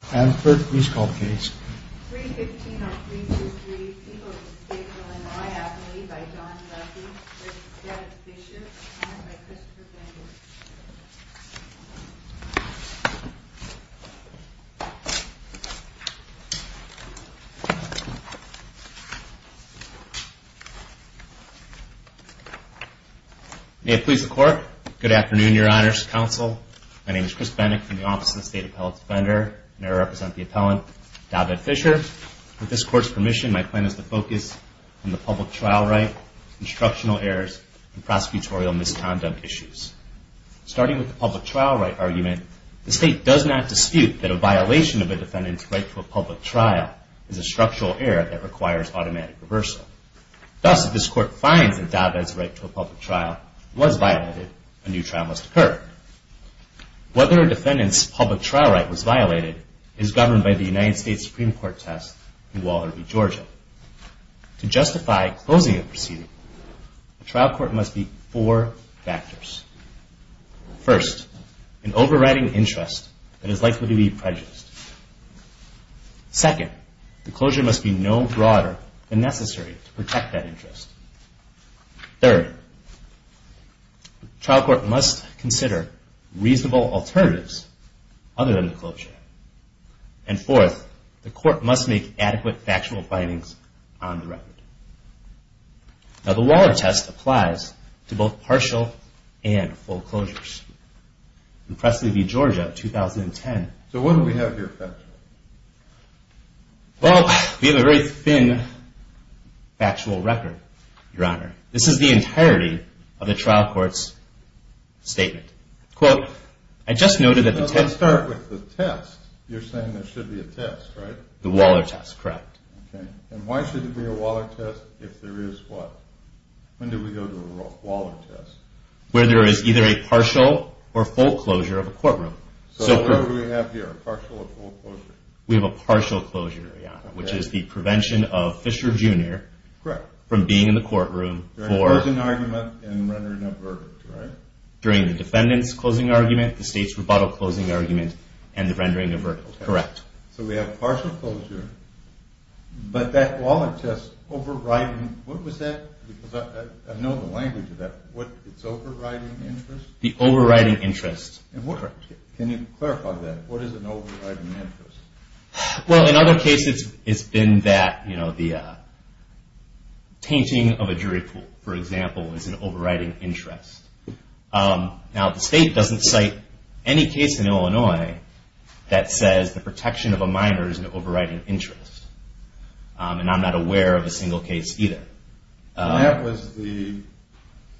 Please call the case. May it please the court. Good afternoon, your honors, counsel. My name is Chris Bennett from the Office of the State Appellate Defender, and I represent the appellant, David Fisher. With this court's permission, my plan is to focus on the public trial right, instructional errors, and prosecutorial misconduct issues. Starting with the public trial right argument, the state does not dispute that a violation of a defendant's right to a public trial is a structural error that requires automatic reversal. Thus, if this court finds that David's right to a public trial was violated, a new trial must occur. Third, whether a defendant's public trial right was violated is governed by the United States Supreme Court test in Wallerby, Georgia. To justify closing a proceeding, the trial court must meet four factors. First, an overriding interest that is likely to be prejudiced. Second, the closure must be no broader than necessary to protect that interest. Third, the trial court must consider reasonable alternatives other than the closure. And fourth, the court must make adequate factual findings on the record. Now, the Waller test applies to both partial and full closures. In Presley v. Georgia, 2010. So what do we have here factually? Well, we have a very thin factual record, Your Honor. This is the entirety of the trial court's statement. Quote, I just noted that the test. Let's start with the test. You're saying there should be a test, right? The Waller test, correct. Okay. And why should there be a Waller test if there is what? When do we go to a Waller test? Where there is either a partial or full closure of a courtroom. So what do we have here? Partial or full closure? We have a partial closure, Your Honor, which is the prevention of Fisher, Jr. Correct. From being in the courtroom for. For a closing argument and rendering a verdict, right? During the defendant's closing argument, the state's rebuttal closing argument, and the rendering of a verdict, correct. So we have partial closure, but that Waller test overriding, what was that? Because I know the language of that. What, it's overriding interest? The overriding interest. And what, can you clarify that? What is an overriding interest? Well, in other cases, it's been that, you know, the tainting of a jury pool, for example, is an overriding interest. Now, the state doesn't cite any case in Illinois that says the protection of a minor is an overriding interest. And I'm not aware of a single case either. That was the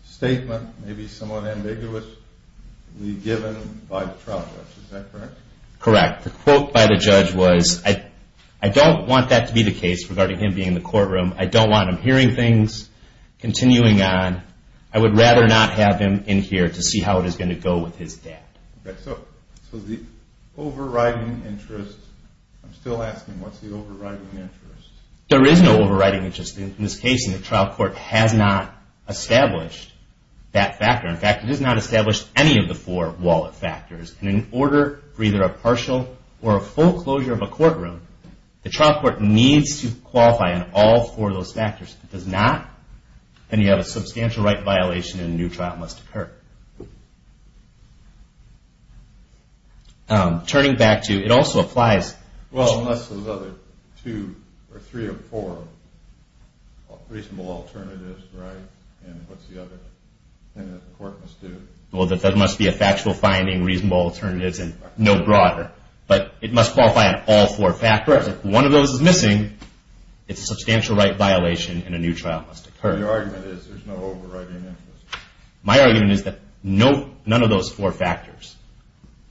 statement, maybe somewhat ambiguous, given by the trial judge, is that correct? Correct. The quote by the judge was, I don't want that to be the case regarding him being in the courtroom, I don't want him hearing things, continuing on, I would rather not have him in here to see how it is going to go with his dad. Okay, so the overriding interest, I'm still asking, what's the overriding interest? There is no overriding interest. In this case, the trial court has not established that factor. In fact, it has not established any of the four Waller factors. And in order for either a partial or a full closure of a courtroom, the trial court needs to qualify on all four of those factors. If it does not, then you have a substantial right violation and a new trial must occur. Turning back to, it also applies. Well, unless those other two or three or four reasonable alternatives, right, and what's the other thing that the court must do? Well, that there must be a factual finding, reasonable alternatives, and no broader. But it must qualify on all four factors. If one of those is missing, it's a substantial right violation and a new trial must occur. The argument is, there's no overriding interest. My argument is that none of those four factors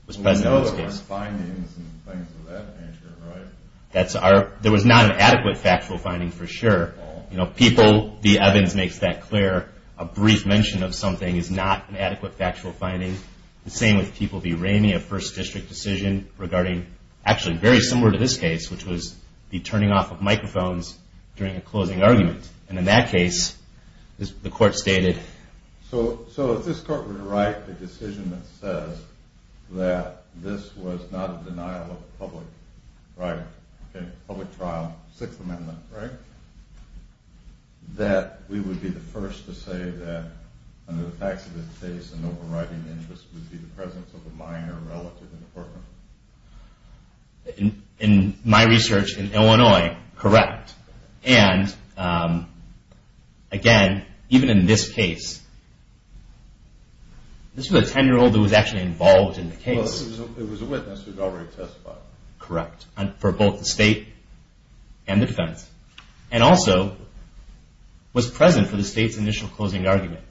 was present in this case. Well, we know there were findings and things of that nature, right? That's our, there was not an adequate factual finding for sure. You know, people, the evidence makes that clear. A brief mention of something is not an adequate factual finding. The same with people deraiming a first district decision regarding, actually very similar to this case, which was the turning off of microphones during a closing argument. And in that case, the court stated. So if this court were to write a decision that says that this was not a denial of public, right, okay, public trial, Sixth Amendment, right, that we would be the first to say that under the facts of this case, an overriding interest would be the presence of a minor relative in the courtroom? In my research in Illinois, correct. And again, even in this case, this was a 10-year-old that was actually involved in the case. It was a witness who had already testified. Correct. For both the state and the defense, and also was present for the state's initial closing argument.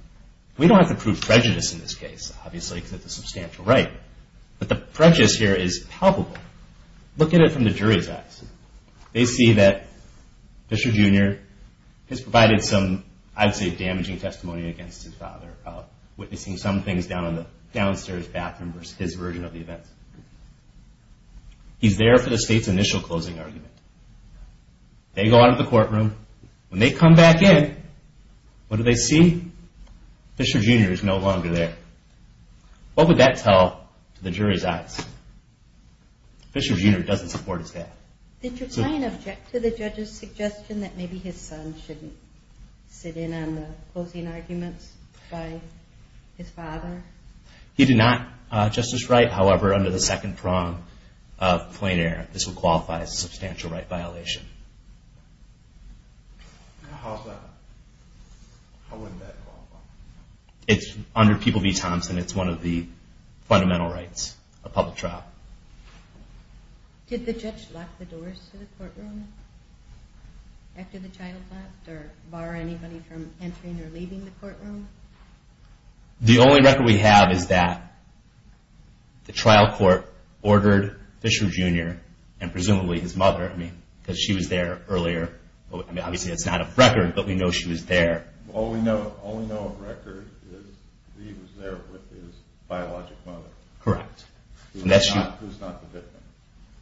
We don't have to prove prejudice in this case, obviously, because it's a substantial right. But the prejudice here is palpable. Look at it from the jury's eyes. They see that Fisher, Jr. has provided some, I'd say, damaging testimony against his father about witnessing some things down in the downstairs bathroom versus his version of the events. He's there for the state's initial closing argument. They go out of the courtroom. When they come back in, what do they see? Fisher, Jr. is no longer there. What would that tell the jury's eyes? Fisher, Jr. doesn't support his dad. Did your client object to the judge's suggestion that maybe his son shouldn't sit in on the closing arguments by his father? He did not, Justice Wright. However, under the second prong of plain error, this would qualify as a substantial right violation. How would that qualify? It's under People v. Thompson. It's one of the fundamental rights of public trial. Did the judge lock the doors to the courtroom after the child left, or bar anybody from entering or leaving the courtroom? The only record we have is that the trial court ordered Fisher, Jr. and presumably his mother, I mean, because she was there earlier. Obviously, that's not a record, but we know she was there. All we know of record is he was there with his biologic mother. Correct. Who's not the victim.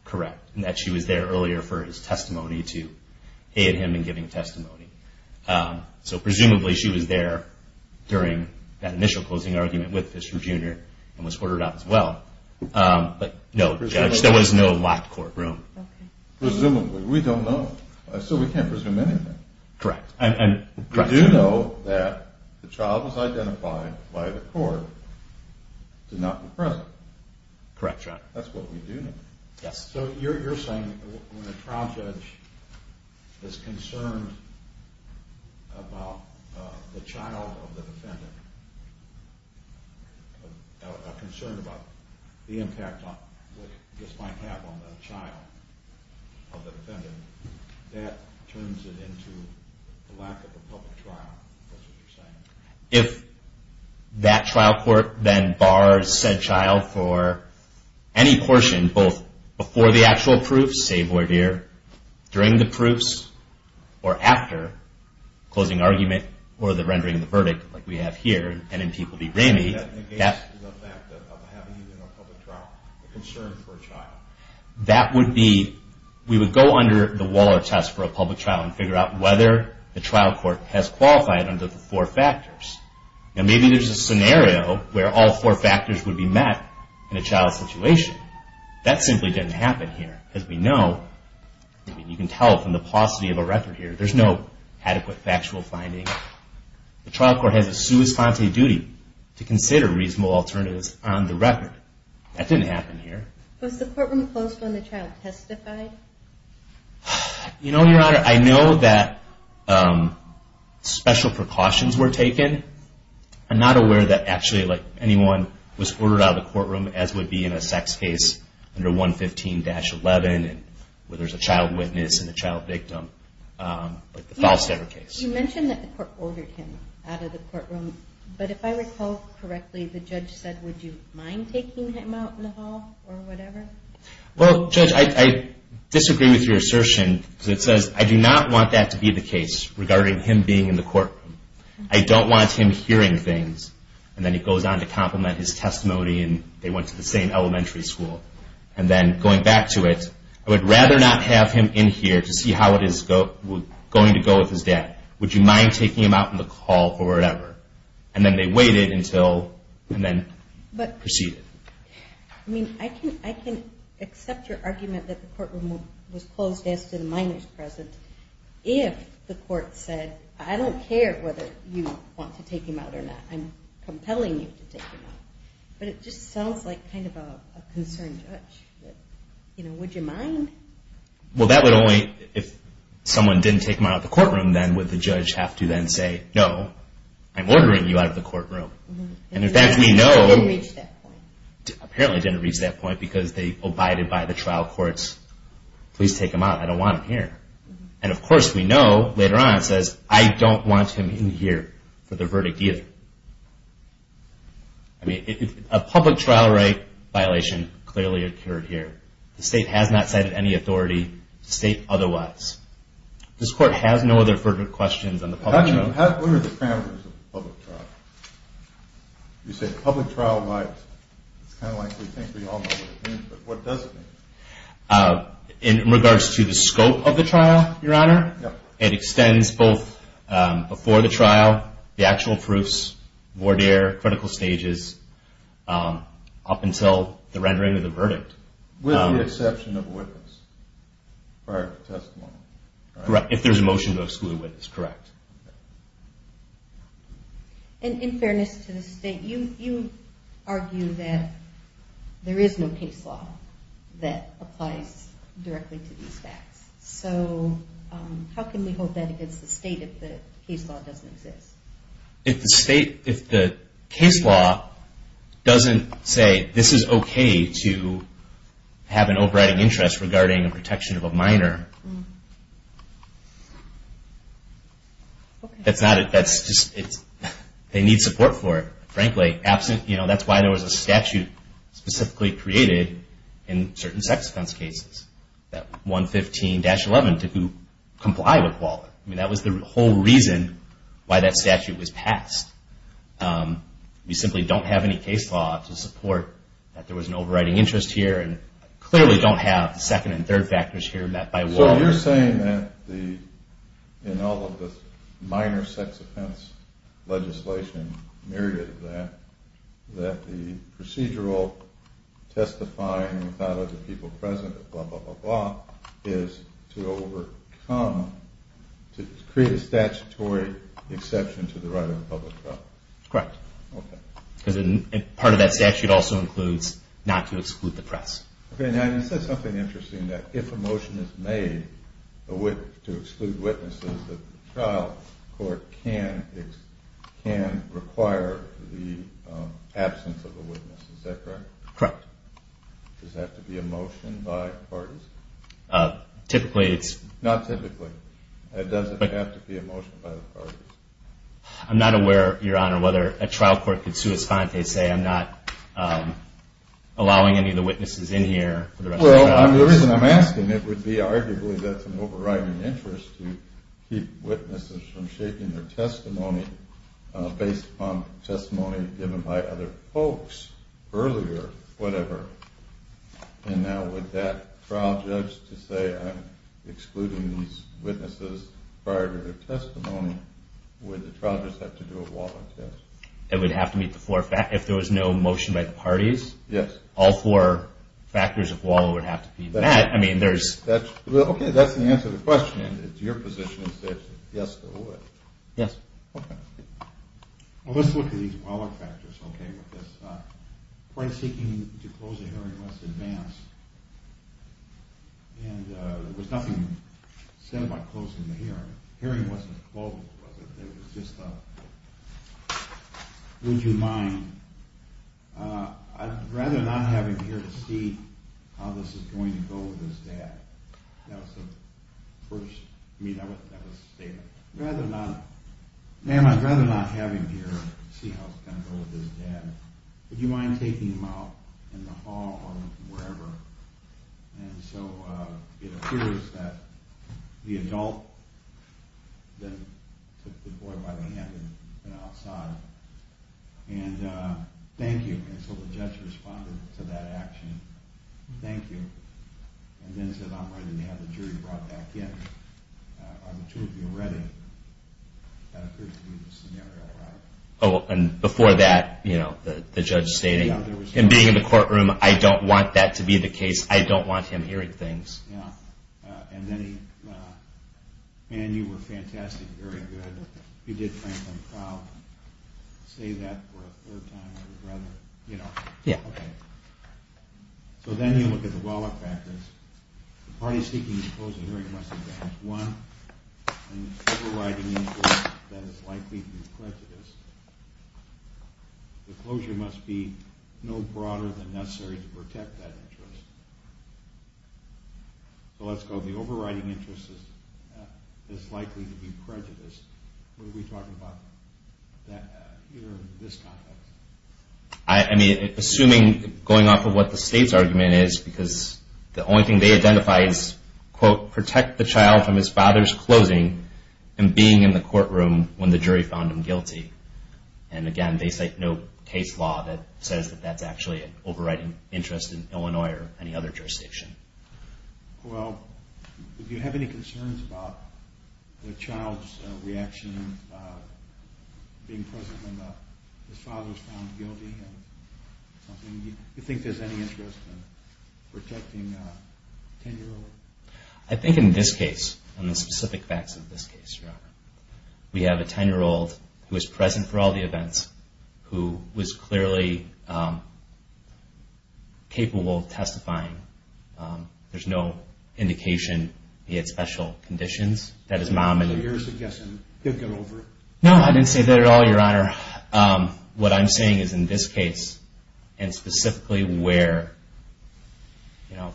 Correct. And that she was there earlier for his testimony to aid him in giving testimony. So presumably, she was there during that initial closing argument with Fisher, Jr. and was ordered out as well. But no, Judge, there was no locked courtroom. Presumably. We don't know. So we can't presume anything. Correct. And, correct. We do know that the child was identified by the court, did not be present. Correct, John. That's what we do know. Yes. So, you're saying when a trial judge is concerned about the child of the defendant, or concerned about the impact this might have on the child of the defendant, that turns it into the lack of a public trial, is what you're saying? If that trial court then bars said child for any portion, both before the actual proof, say voir dire, during the proofs, or after closing argument, or the rendering of the verdict, like we have here, and in people be ramey. That negates the fact of having even a public trial, a concern for a child. That would be, we would go under the wall or test for a public trial and figure out whether the trial court has qualified under the four factors. Now, maybe there's a scenario where all four factors would be met in a child's situation. That simply didn't happen here, because we know, you can tell from the paucity of a record here, there's no adequate factual finding. The trial court has a sua sponte duty to consider reasonable alternatives on the record. That didn't happen here. Was the courtroom closed when the child testified? You know, Your Honor, I know that special precautions were taken. I'm not aware that actually, like, anyone was ordered out of the courtroom, as would be in a sex case under 115-11, where there's a child witness and a child victim, like the Falstaff case. You mentioned that the court ordered him out of the courtroom, but if I recall correctly, the judge said, would you mind taking him out in the hall, or whatever? Well, Judge, I disagree with your assertion, because it says, I do not want that to be the case, regarding him being in the courtroom. I don't want him hearing things, and then he goes on to compliment his testimony, and they went to the same elementary school. And then, going back to it, I would rather not have him in here to see how it is going to go with his dad. Would you mind taking him out in the hall, or whatever? And then they waited until, and then proceeded. I mean, I can accept your argument that the courtroom was closed as to the minor's presence, if the court said, I don't care whether you want to take him out or not. I'm compelling you to take him out. But it just sounds like kind of a concerned judge. You know, would you mind? Well, that would only, if someone didn't take him out of the courtroom, then would the judge have to then say, no, I'm ordering you out of the courtroom. And in fact, we know, apparently didn't reach that point, because they abided by the trial court's, please take him out, I don't want him here. And of course, we know, later on, it says, I don't want him in here for the verdict either. I mean, a public trial right violation clearly occurred here. The state has not cited any authority, state otherwise. This court has no other further questions on the public trial. What are the parameters of a public trial? You say public trial rights, it's kind of like we think we all know what it means, but what does it mean? In regards to the scope of the trial, Your Honor, it extends both before the trial, the actual proofs, voir dire, critical stages, up until the rendering of the verdict. With the exception of a witness, prior to testimony, correct? Correct, if there's a motion to exclude a witness, correct. And in fairness to the state, you argue that there is no case law that applies directly to these facts. So, how can we hold that against the state if the case law doesn't exist? If the state, if the case law doesn't say, this is okay to have an overriding interest regarding a protection of a minor, that's not, that's just, they need support for it, frankly, absent, you know, that's why there was a statute specifically created in certain sex offence cases, that 115-11 to comply with WALA. I mean, that was the whole reason why that statute was passed. We simply don't have any case law to support that there was an overriding interest here, and clearly don't have second and third factors here met by WALA. So, you're saying that the, in all of the minor sex offence legislation, myriad of that, that the procedural testifying without other people present, blah, blah, blah, blah, is to overcome, to create a statutory exception to the right of public trial? Correct. Okay. Part of that statute also includes not to exclude the press. Okay, now you said something interesting, that if a motion is made to exclude witnesses, that the trial court can require the absence of a witness. Is that correct? Correct. Does that have to be a motion by parties? Typically, it's... Not typically. It doesn't have to be a motion by the parties. I'm not aware, Your Honour, whether a trial court could sui sponte say, I'm not allowing any of the witnesses in here for the rest of my time. Well, the reason I'm asking, it would be arguably that's an overriding interest to keep witnesses from shaking their testimony based on testimony given by other folks earlier, whatever. And now, would that trial judge to say, I'm excluding these witnesses prior to their testimony, would the trial judge have to do a WALRC test? It would have to meet the four factors. If there was no motion by the parties, all four factors of WALRC would have to be met. I mean, there's... Okay, that's the answer to the question. It's your position that yes, it would. Yes. Okay. Well, let's look at these WALRC factors, okay? and there was nothing said about closing the hearing. The hearing wasn't closed, was it? It was just a... Would you mind... I'd rather not have him here to see how this is going to go with his dad. That was the first... I mean, that was the statement. I'd rather not... Ma'am, I'd rather not have him here to see how it's going to go with his dad. Would you mind taking him out in the hall or wherever? And so, it appears that the adult then took the boy by the hand and went outside. And, uh, thank you. And so the judge responded to that action, thank you. And then said, I'm ready to have the jury brought back in. Are the two of you ready? That appears to be the scenario, right? Oh, and before that, you know, the judge stating, And being in the courtroom, I don't want that to be the case. I don't want him hearing things. And then he, uh, Ma'am, you were fantastic, very good. You did Franklin proud. Say that for a third time. I would rather, you know... Yeah. So then you look at the WellARC factors. The party seeking to close the hearing must advance one, and the civil right in the court that is likely to be prejudiced. The closure must be no broader than necessary to protect that interest. So let's go, the overriding interest is likely to be prejudiced. What are we talking about here in this context? I mean, assuming, going off of what the state's argument is, because the only thing they identify is, quote, Protect the child from his father's closing and being in the courtroom when the jury found him guilty. And again, they cite no case law that says that that's actually an overriding interest in Illinois or any other jurisdiction. Well, do you have any concerns about the child's reaction being present when his father was found guilty? Do you think there's any interest in protecting a 10-year-old? I think in this case, in the specific facts of this case, Your Honor, we have a 10-year-old who was present for all the events, who was clearly capable of testifying. There's no indication he had special conditions. So you're suggesting he'll get over it? No, I didn't say that at all, Your Honor. What I'm saying is in this case, and specifically where,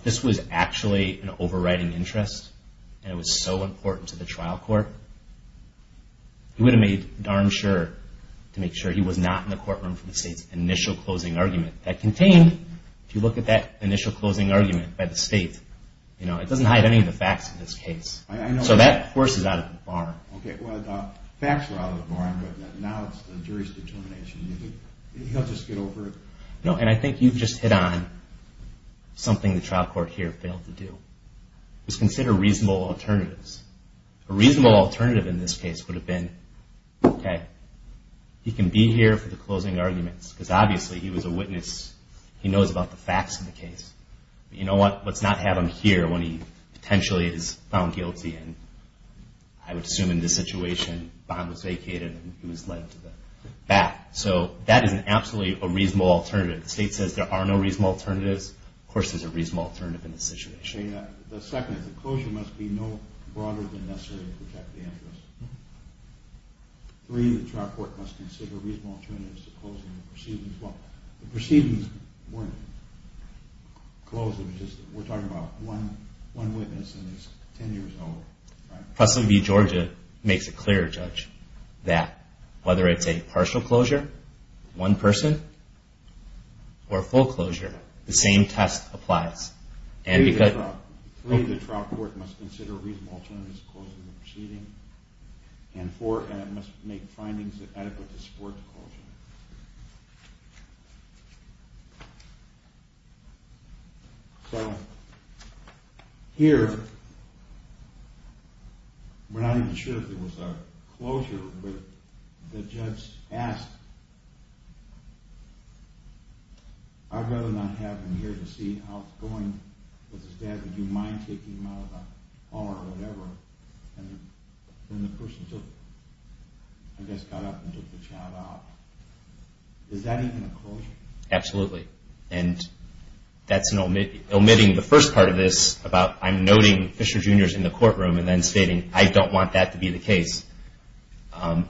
this was actually an overriding interest, and it was so important to the trial court, he would have made darn sure to make sure he was not in the courtroom for the state's initial closing argument. That contained, if you look at that initial closing argument by the state, it doesn't hide any of the facts of this case. So that, of course, is out of the bar. Well, the facts are out of the bar, but now it's the jury's determination. Do you think he'll just get over it? No, and I think you've just hit on something the trial court here failed to do. It was considered reasonable alternatives. A reasonable alternative in this case would have been, okay, he can be here for the closing arguments, because obviously he was a witness. He knows about the facts of the case. You know what? Let's not have him here when he potentially is found guilty, and I would assume in this situation, bond was vacated and he was led to the back. So that is absolutely a reasonable alternative. The state says there are no reasonable alternatives. Of course there's a reasonable alternative in this situation. The second is the closure must be no broader than necessary to protect the interest. Three, the trial court must consider reasonable alternatives to closing the proceedings. Well, the proceedings weren't closed. It was just, we're talking about one witness and he's 10 years old. President B. Georgia makes it clear, Judge, that whether it's a partial closure, one person, or a full closure, the same test applies. Three, the trial court must consider reasonable alternatives to closing the proceedings. And four, it must make findings that are adequate to support the closure. So, here, we're not even sure if there was a closure, but the judge asked, I'd rather not have him here to see how it's going with his dad. Would you mind taking him out of the bar or whatever? And then the person took, I guess got up and took the child out. Is that even a closure? Absolutely. And that's omitting the first part of this, about I'm noting Fisher Jr. is in the courtroom, and then stating I don't want that to be the case.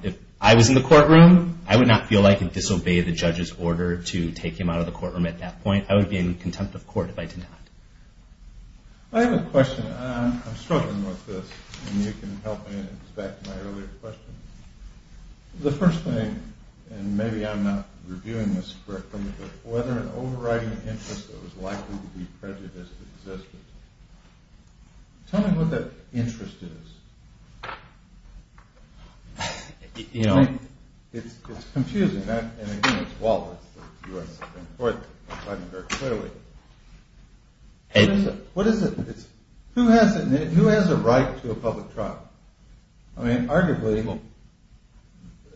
If I was in the courtroom, I would not feel like I could disobey the judge's order to take him out of the courtroom at that point. I would be in contempt of court if I did not. I have a question. I'm struggling with this, and you can help me. It's back to my earlier question. The first thing, and maybe I'm not reviewing this correctly, but whether an overriding interest that was likely to be prejudiced existed. Tell me what that interest is. It's confusing. And again, it's Wallace, the U.S. Supreme Court, deciding very clearly. What is it? Who has a right to a public trial? I mean, arguably,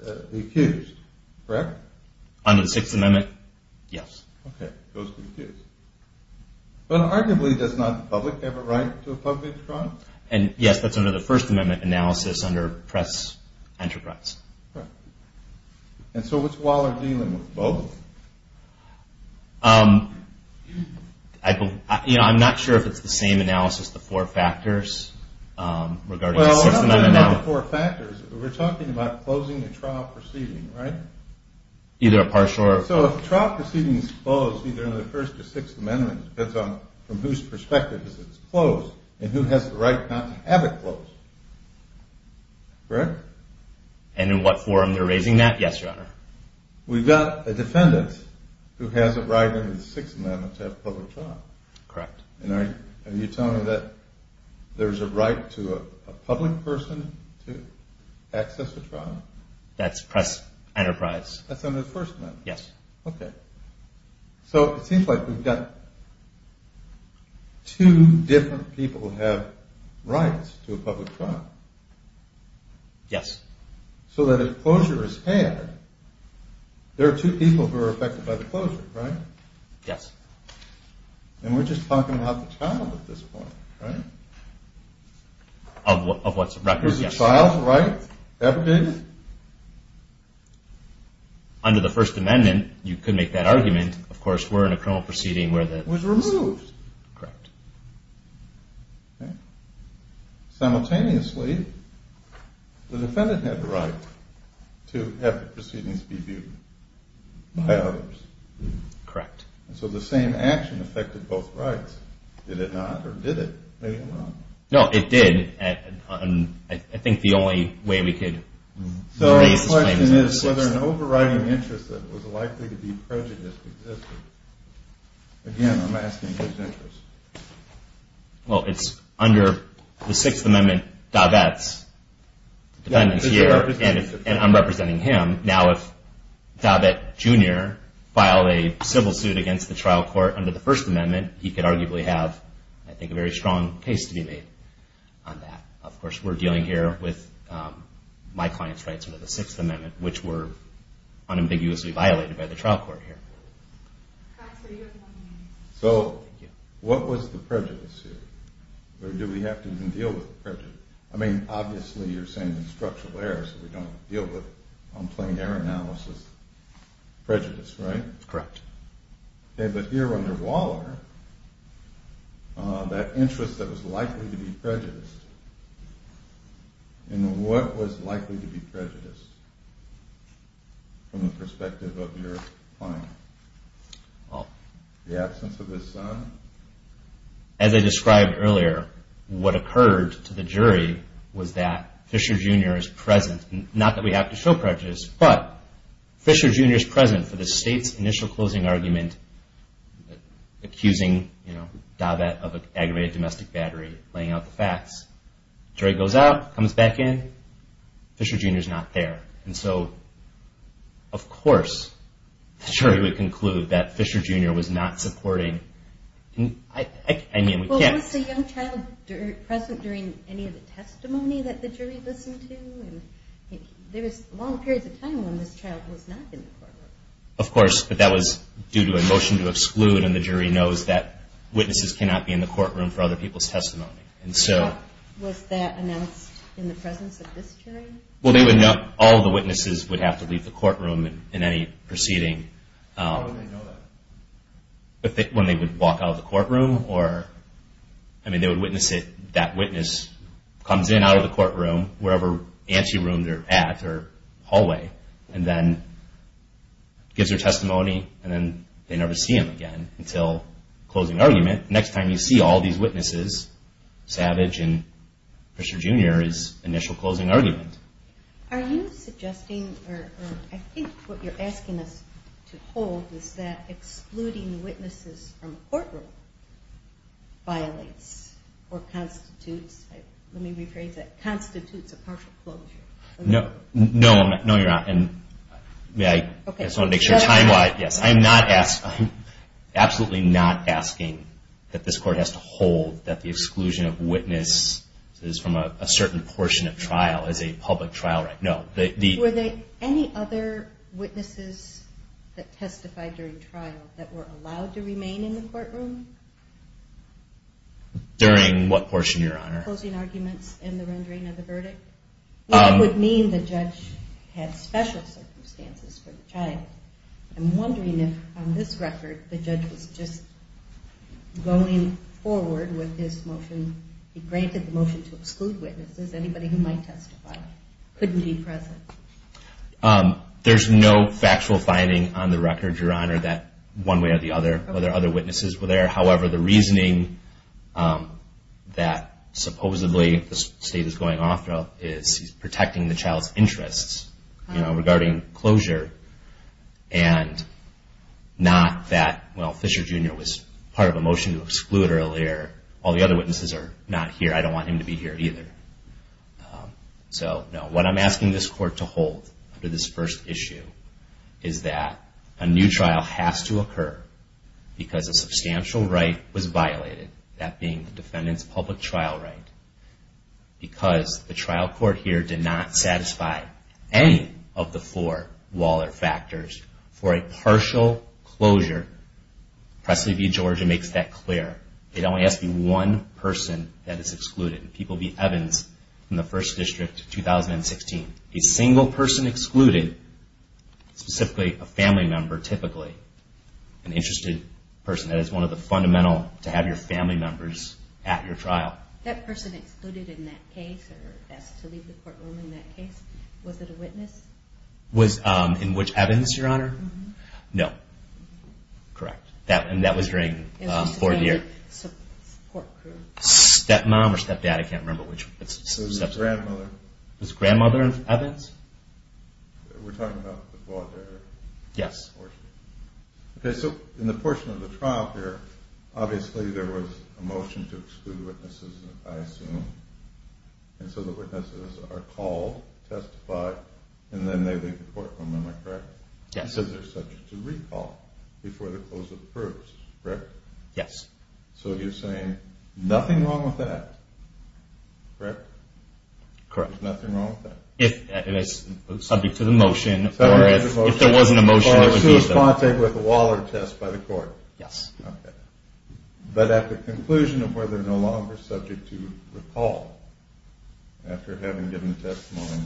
the accused, correct? Under the Sixth Amendment, yes. Okay, goes to the accused. But arguably, does not the public have a right to a public trial? And yes, that's under the First Amendment analysis under press enterprise. And so what's Waller dealing with both? I'm not sure if it's the same analysis, the four factors, regarding the Sixth Amendment analysis. We're talking about closing a trial proceeding, right? Either a partial or... So if a trial proceeding is closed, either under the First or Sixth Amendment, it depends on from whose perspective it's closed, and who has the right not to have it closed. Correct? And in what forum they're raising that? Yes, Your Honor. We've got a defendant who has a right under the Sixth Amendment to have a public trial. Correct. And are you telling me that there's a right to a public person to access a trial? That's press enterprise. That's under the First Amendment? Yes. Okay. So it seems like we've got two different people who have rights to a public trial. Yes. So that if closure is had, there are two people who are affected by the closure, right? Yes. And we're just talking about the child at this point, right? Of what's a record, yes. Is the child's right ever dated? Under the First Amendment, you could make that argument. Of course, we're in a criminal proceeding where the... It was removed. Correct. Simultaneously, the defendant had the right to have the proceedings be viewed by others. Correct. So the same action affected both rights. Did it not, or did it? No, it did. I think the only way we could So the question is whether an overriding interest that was likely to be prejudiced existed. Again, I'm asking his interest. Well, it's under the Sixth Amendment, Davets, and I'm representing him. Now, if Davet Jr. filed a civil suit against the trial court under the First Amendment, he could arguably have, I think, a very strong case to be made on that. Of course, we're dealing here with my client's rights under the Sixth Amendment, which were unambiguously violated by the trial court here. So, what was the prejudice here? Or do we have to even deal with the prejudice? I mean, obviously, you're saying structural errors that we don't deal with on plain error analysis. Prejudice, right? Correct. But here under Waller, that interest that was likely to be prejudiced in what was likely to be prejudiced from the perspective of your client? The absence of his son? As I described earlier, what occurred to the jury was that Fisher Jr. is present. Not that we have to show prejudice, but Fisher Jr. is present for the state's initial closing argument accusing Davet of aggravated domestic battery laying out the facts. Jury goes out, comes back in, Fisher Jr. is not there. And so, of course, the jury would conclude that Fisher Jr. was not supporting Well, was the young child present during any of the testimony that the jury listened to? There was long periods of time when this child was not in the courtroom. Of course, but that was due to a motion to exclude and the jury knows that witnesses cannot be in the courtroom for other people's testimony. Was that announced in the presence of this jury? All of the witnesses would have to leave the courtroom in any proceeding How would they know that? When they would walk out of the courtroom or, I mean, they would witness it, that witness comes in out of the courtroom, wherever ante-room they're at, or hallway, and then gives their testimony, and then they never see him again until closing argument. Next time you see all these witnesses, Savage and Fisher Jr. is initial closing argument. Are you suggesting, or I think what you're asking us to hold is that excluding witnesses from courtroom violates or constitutes, let me rephrase that, constitutes a partial closure? No, no you're not, and may I, I just want to make sure time-wise, yes, I am not asking absolutely not asking that this court has to hold that the exclusion of witnesses from a certain portion of trial as a public trial, no. Were there any other witnesses that testified during trial that were allowed to remain in the courtroom? During what portion, Your Honor? Closing arguments in the rendering of the verdict? Would that mean the judge had special circumstances for the trial? I'm wondering if on this record the judge was just going forward with his motion, he granted the motion to exclude witnesses, anybody who might testify couldn't be present? There's no factual finding on the record, Your Honor, that one way or the other, whether other witnesses were there, however the reasoning that supposedly the state is going off is he's protecting the child's interests, you know, regarding closure, and not that, well, Fisher Jr. was part of a motion to exclude earlier, all the other witnesses are not here, I don't want him to be here either. So, no, what I'm asking this court to hold under this first issue is that a new trial has to occur because a substantial right was violated, that being the defendant's public trial right, because the trial court here did not satisfy any of the four Waller factors for a partial closure. Presley v. Georgia makes that clear. It only has to be one person that is excluded. People v. Evans in the First District, 2016. A single person excluded, specifically a family member, typically, an interested person, that is one of the fundamental to have your family members at your trial. That person excluded in that case, or asked to leave the Was it a witness? In which, Evans, Your Honor? No. Correct. And that was during fourth year. Stepmom or stepdad, I can't remember which. Was it grandmother? Was grandmother Evans? We're talking about the Walter? Yes. In the portion of the trial here, obviously there was a motion to exclude witnesses, I assume, and so the witnesses are called, testified, and then they leave the courtroom, am I correct? Yes. So they're subject to recall before the closure approves, correct? Yes. So you're saying nothing wrong with that? Correct? Correct. There's nothing wrong with that? It's subject to the motion, or if there wasn't a motion... So there's contact with the Waller test by the court? Yes. But at the conclusion of where they're no longer subject to recall after having given a testimony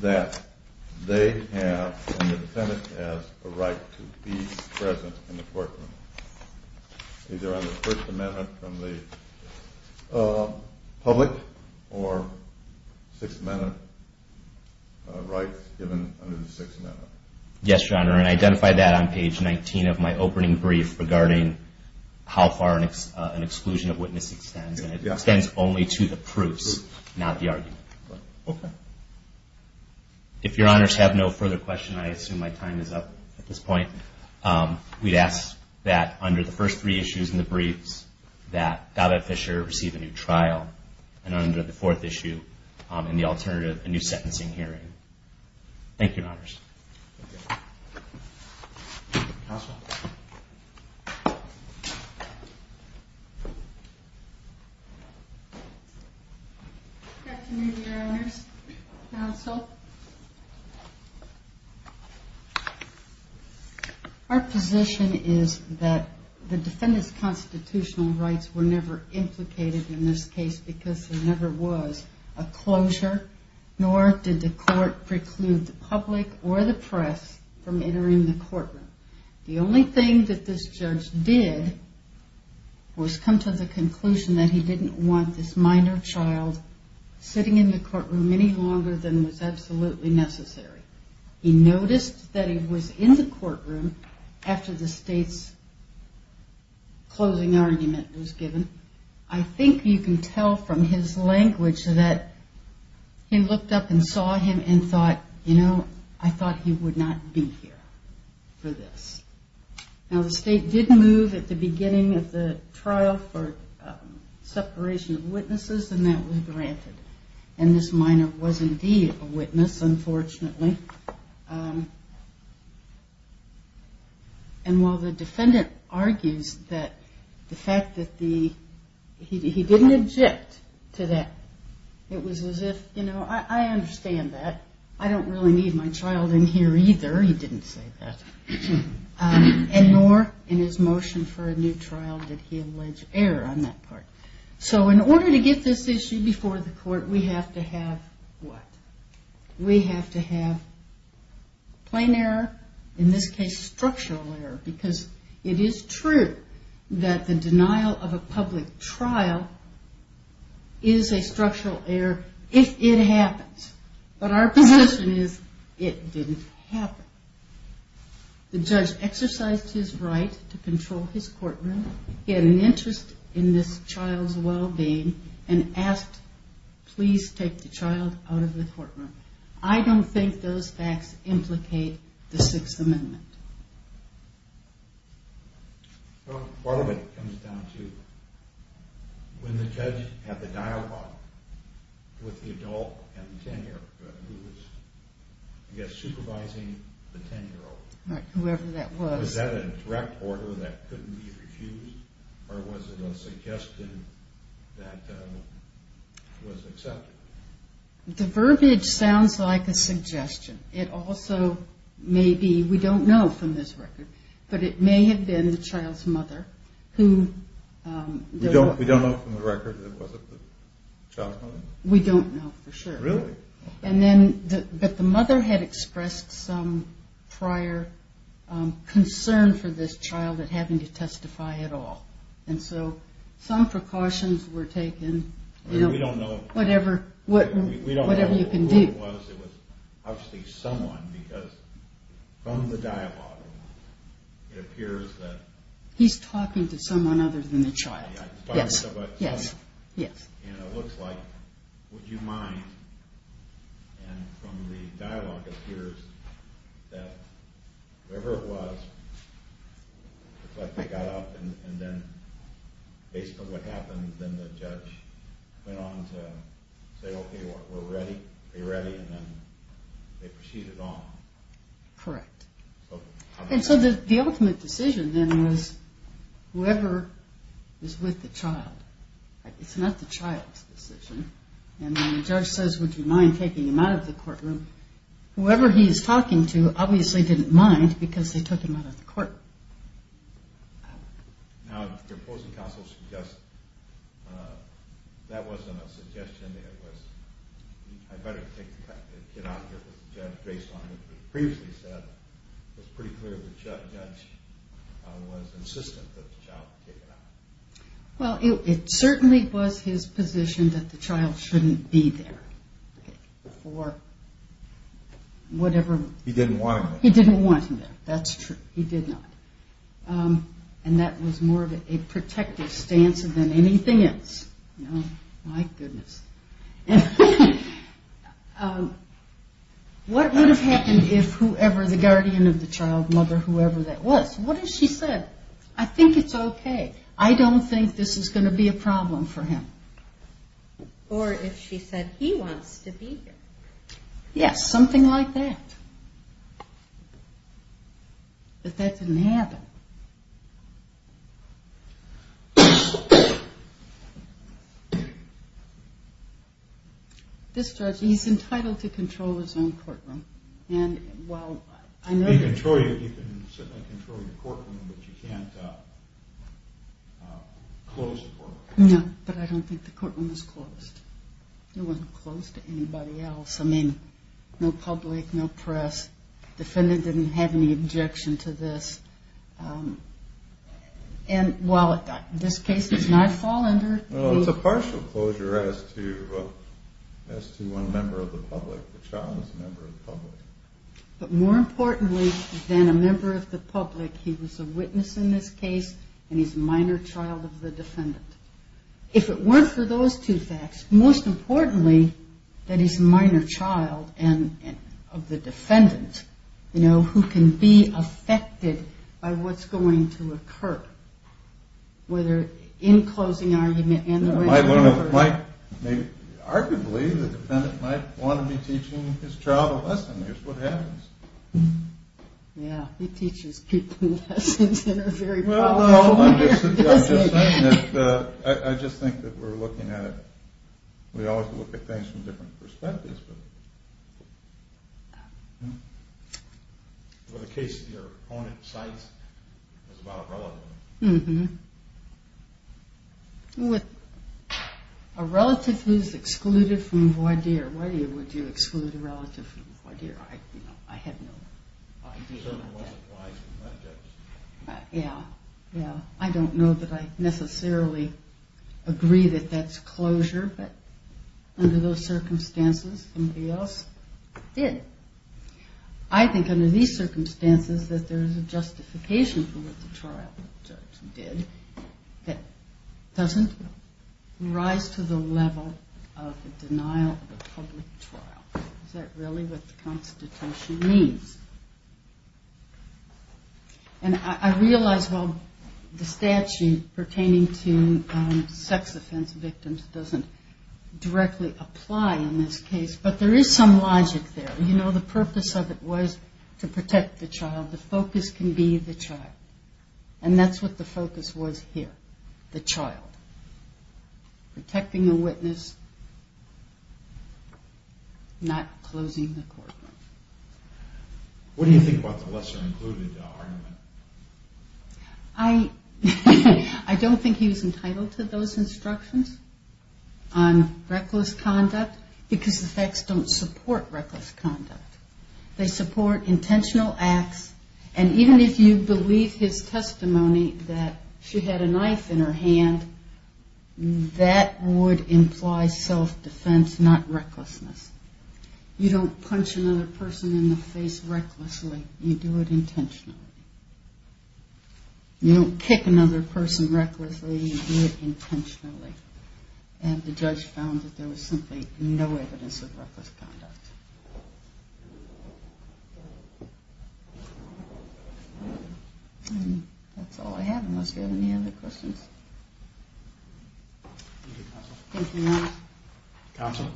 that they have, and the Senate has, a right to be present in the courtroom. Either under the First Amendment from the public or Sixth Amendment rights given under the Sixth Amendment. Yes, Your Honor, and I identified that on page 19 of my opening brief regarding how far an exclusion of witness extends. It extends only to the proofs, not the argument. If Your Honors have no further questions, I assume my time is up at this point. We'd ask that under the first three issues in the briefs, that Gabbett Fisher receive a new trial and under the fourth issue in the alternative, a new sentencing hearing. Thank you, Your Honors. Good afternoon, Your Honors. Counsel? Our position is that the defendant's constitutional rights were never implicated in this case because there never was a closure, nor did the court preclude the public or the press from entering the courtroom. The only thing that this judge did was come to the conclusion that he didn't want this minor child sitting in the courtroom any longer than was absolutely necessary. He noticed that he was in the courtroom after the State's closing argument was given. I think you can tell from his language that he looked up and saw him and thought, you know, I thought he would not be here for this. Now the State did move at the beginning of the trial for separation of witnesses and that was granted. And this minor was indeed a witness, unfortunately. And while the defendant argues that the fact that the he didn't object to that. It was as if, you know, I understand that. I don't really need my child in here either. He didn't say that. And nor in his motion for a new trial did he allege error on that part. So in order to get this issue before the court, we have to have what? We have to have plain error, in this case structural error because it is true that the denial of a public trial is a structural error if it happens. But our position is it didn't happen. The judge exercised his right to control his courtroom. He had an interest in this child's well-being and asked, please take the child out of the courtroom. I don't think those facts implicate the Sixth Amendment. Well, part of it comes down to when the judge had the dialogue with the adult and the tenure who was, I guess, supervising the 10-year-old. Was that a direct order that couldn't be refused? Or was it a suggestion that was accepted? The verbiage sounds like a suggestion. It also may be we don't know from this record but it may have been the child's mother who We don't know from the record that it wasn't the child's mother? We don't know for sure. But the mother had expressed some prior concern for this child at having to testify at all. Some precautions were taken. We don't know who it was. It was obviously someone because from the dialogue it appears that He's talking to someone other than the child. It looks like Would you mind and from the dialogue it appears that whoever it was it's like they got up and then based on what happened then the judge went on to say okay we're ready and then they proceeded on. Correct. And so the ultimate decision then was whoever is with the child. It's not the child's decision. And when the judge says would you mind taking him out of the courtroom whoever he's talking to obviously didn't mind because they took him out of the court. Now the opposing counsel suggests that wasn't a suggestion it was I'd better take the kid out here because the judge based on what was previously said was pretty clear the judge was insistent that the child be taken out. Well it certainly was his position that the child shouldn't be there for whatever He didn't want him there. That's true. He did not. And that was more of a protective stance than anything else. My goodness. What would have happened if whoever the guardian of the child, mother, whoever that was, what has she said? I think it's okay. I don't think this is going to be a problem for him. Or if she said he wants to be here. Yes, something like that. But that didn't happen. This judge, he's entitled to control his own courtroom and well I know You can certainly control your courtroom but you can't close the courtroom. No, but I don't think the courtroom was closed. It wasn't closed to anybody else. I mean, no public, no press. Defendant didn't have any objection to this. And while this case is not fall under. Well it's a partial closure as to The child is a member of the public. But more importantly than a member of the public, he was a witness in this case and he's a minor child of the defendant. If it weren't for those two facts, most importantly that he's a minor child and of the defendant you know, who can be affected by what's going to occur. Whether in closing argument and the way... Arguably the defendant might want to be teaching his child a lesson. Here's what happens. Yeah, he teaches people lessons in a very powerful way. I'm just saying that I just think that we're looking at it, we always look at things from different perspectives. Well the case your opponent cites is about a relative. A relative who's excluded from voir dire. Why would you exclude a relative from voir dire? I have no idea. Yeah, yeah. I don't know that I necessarily agree that that's closure but under those circumstances somebody else did. I think under these circumstances that there's a justification for what the trial judge did that doesn't rise to the level of the denial of a public trial. Is that really what the constitution means? And I realize while the statute pertaining to sex offense victims doesn't directly apply in this case but there is some logic there. The purpose of it was to protect the child. The focus can be the child. And that's what the focus was here. The child. Protecting a witness not closing the courtroom. What do you think about the lesser included argument? I don't think he was entitled to those instructions on reckless conduct because the facts don't support reckless conduct. They support intentional acts and even if you believe his testimony that she had a knife in her hand that would imply self defense not recklessness. You don't punch another person in the face recklessly. You do it intentionally. You don't kick another person recklessly. You do it intentionally. And the judge found that there was simply no evidence of reckless conduct. And that's all I have unless you have any other questions. Thank you counsel. Thank you. Counsel.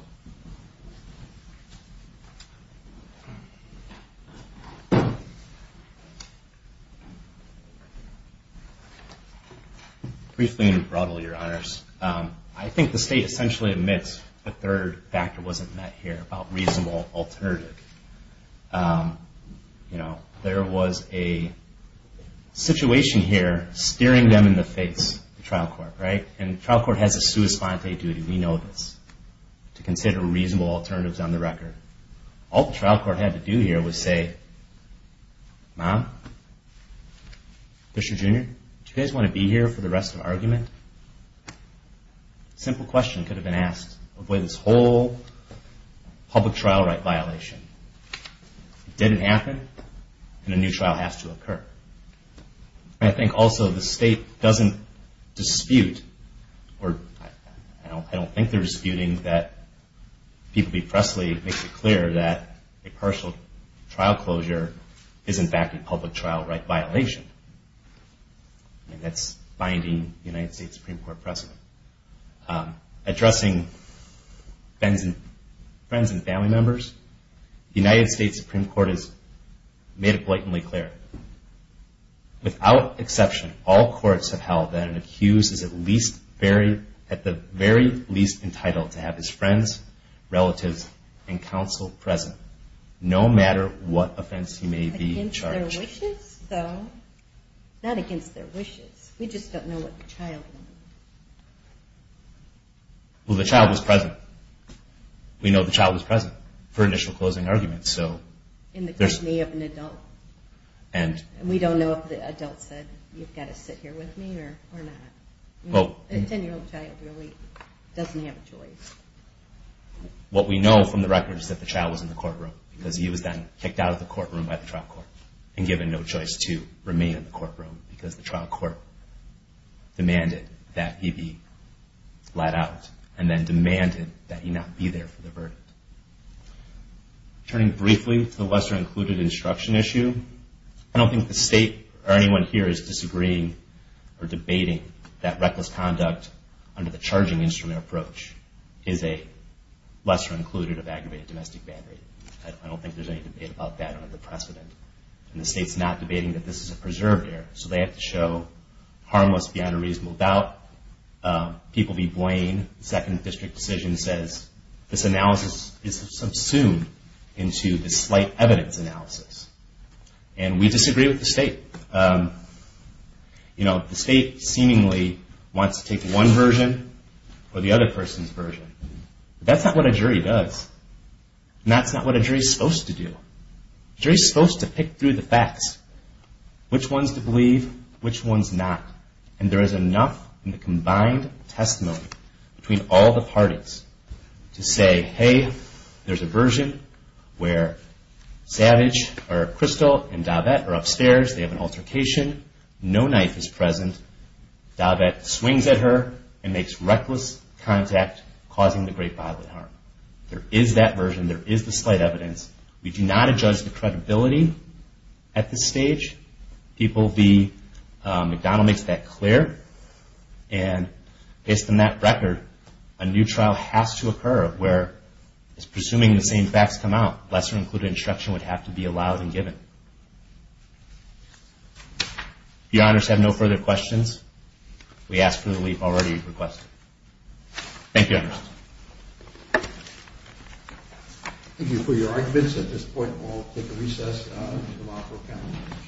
Briefly and broadly your honors. I think the state essentially admits the third factor wasn't met here about reasonable alternative. You know there was a situation here steering them in the face the trial court, right? And the trial court has a sua sponte duty. We know this. To consider reasonable alternatives on the record. All the trial court had to do here was say Mom Mr. Junior do you guys want to be here for the rest of the argument? Simple question could have been asked. Avoid this whole public trial right violation. It didn't happen and a new trial has to occur. I think also the state doesn't dispute or I don't think they're disputing that Peter B. Presley makes it clear that a partial trial closure is in fact a public trial right violation. And that's binding the United States Supreme Court precedent. Addressing friends and family members, the United States Supreme Court has made it without exception all courts have held that an accused is at least at the very least entitled to have his friends relatives and counsel present no matter what offense he may be charged. Against their wishes? Not against their wishes. We just don't know what the child wanted. Well the child was present. We know the child was present for initial closing arguments. In the company of an adult. And we don't know if the adult said you've got to sit here with me or not. A 10 year old child really doesn't have a choice. What we know from the record is that the child was in the courtroom because he was then kicked out of the courtroom by the trial court and given no choice to remain in the courtroom because the trial court demanded that he be let out and then demanded that he not be there for the verdict. Turning briefly to the lesser included instruction issue I don't think the state or anyone here is disagreeing or debating that reckless conduct under the charging instrument approach is a lesser included of aggravated domestic battery. I don't think there's any debate about that under the precedent. And the state's not debating that this is a preserved error so they have to show harmless beyond a reasonable doubt people be blamed second district decision says this analysis is subsumed into the slight evidence analysis and we disagree with the state. You know the state seemingly wants to take one version or the other person's version but that's not what a jury does and that's not what a jury's supposed to do. A jury's supposed to pick through the facts which one's to believe which one's not and there is enough in the combined testimony between all the parties to say hey there's a version where Savage or Crystal and Davette are upstairs, they have an altercation no knife is present Davette swings at her and makes reckless contact causing the great violent harm. There is that version, there is the slight evidence we do not adjudge the credibility at this stage people be McDonald makes that clear and based on that record a new trial has to occur where it's presuming the same facts come out lesser included instruction would have to be allowed and given. If your honors have no further questions we ask for the leave already requested. Thank you your honors. Thank you for your arguments at this point we'll take a recess and allow for a panel discussion.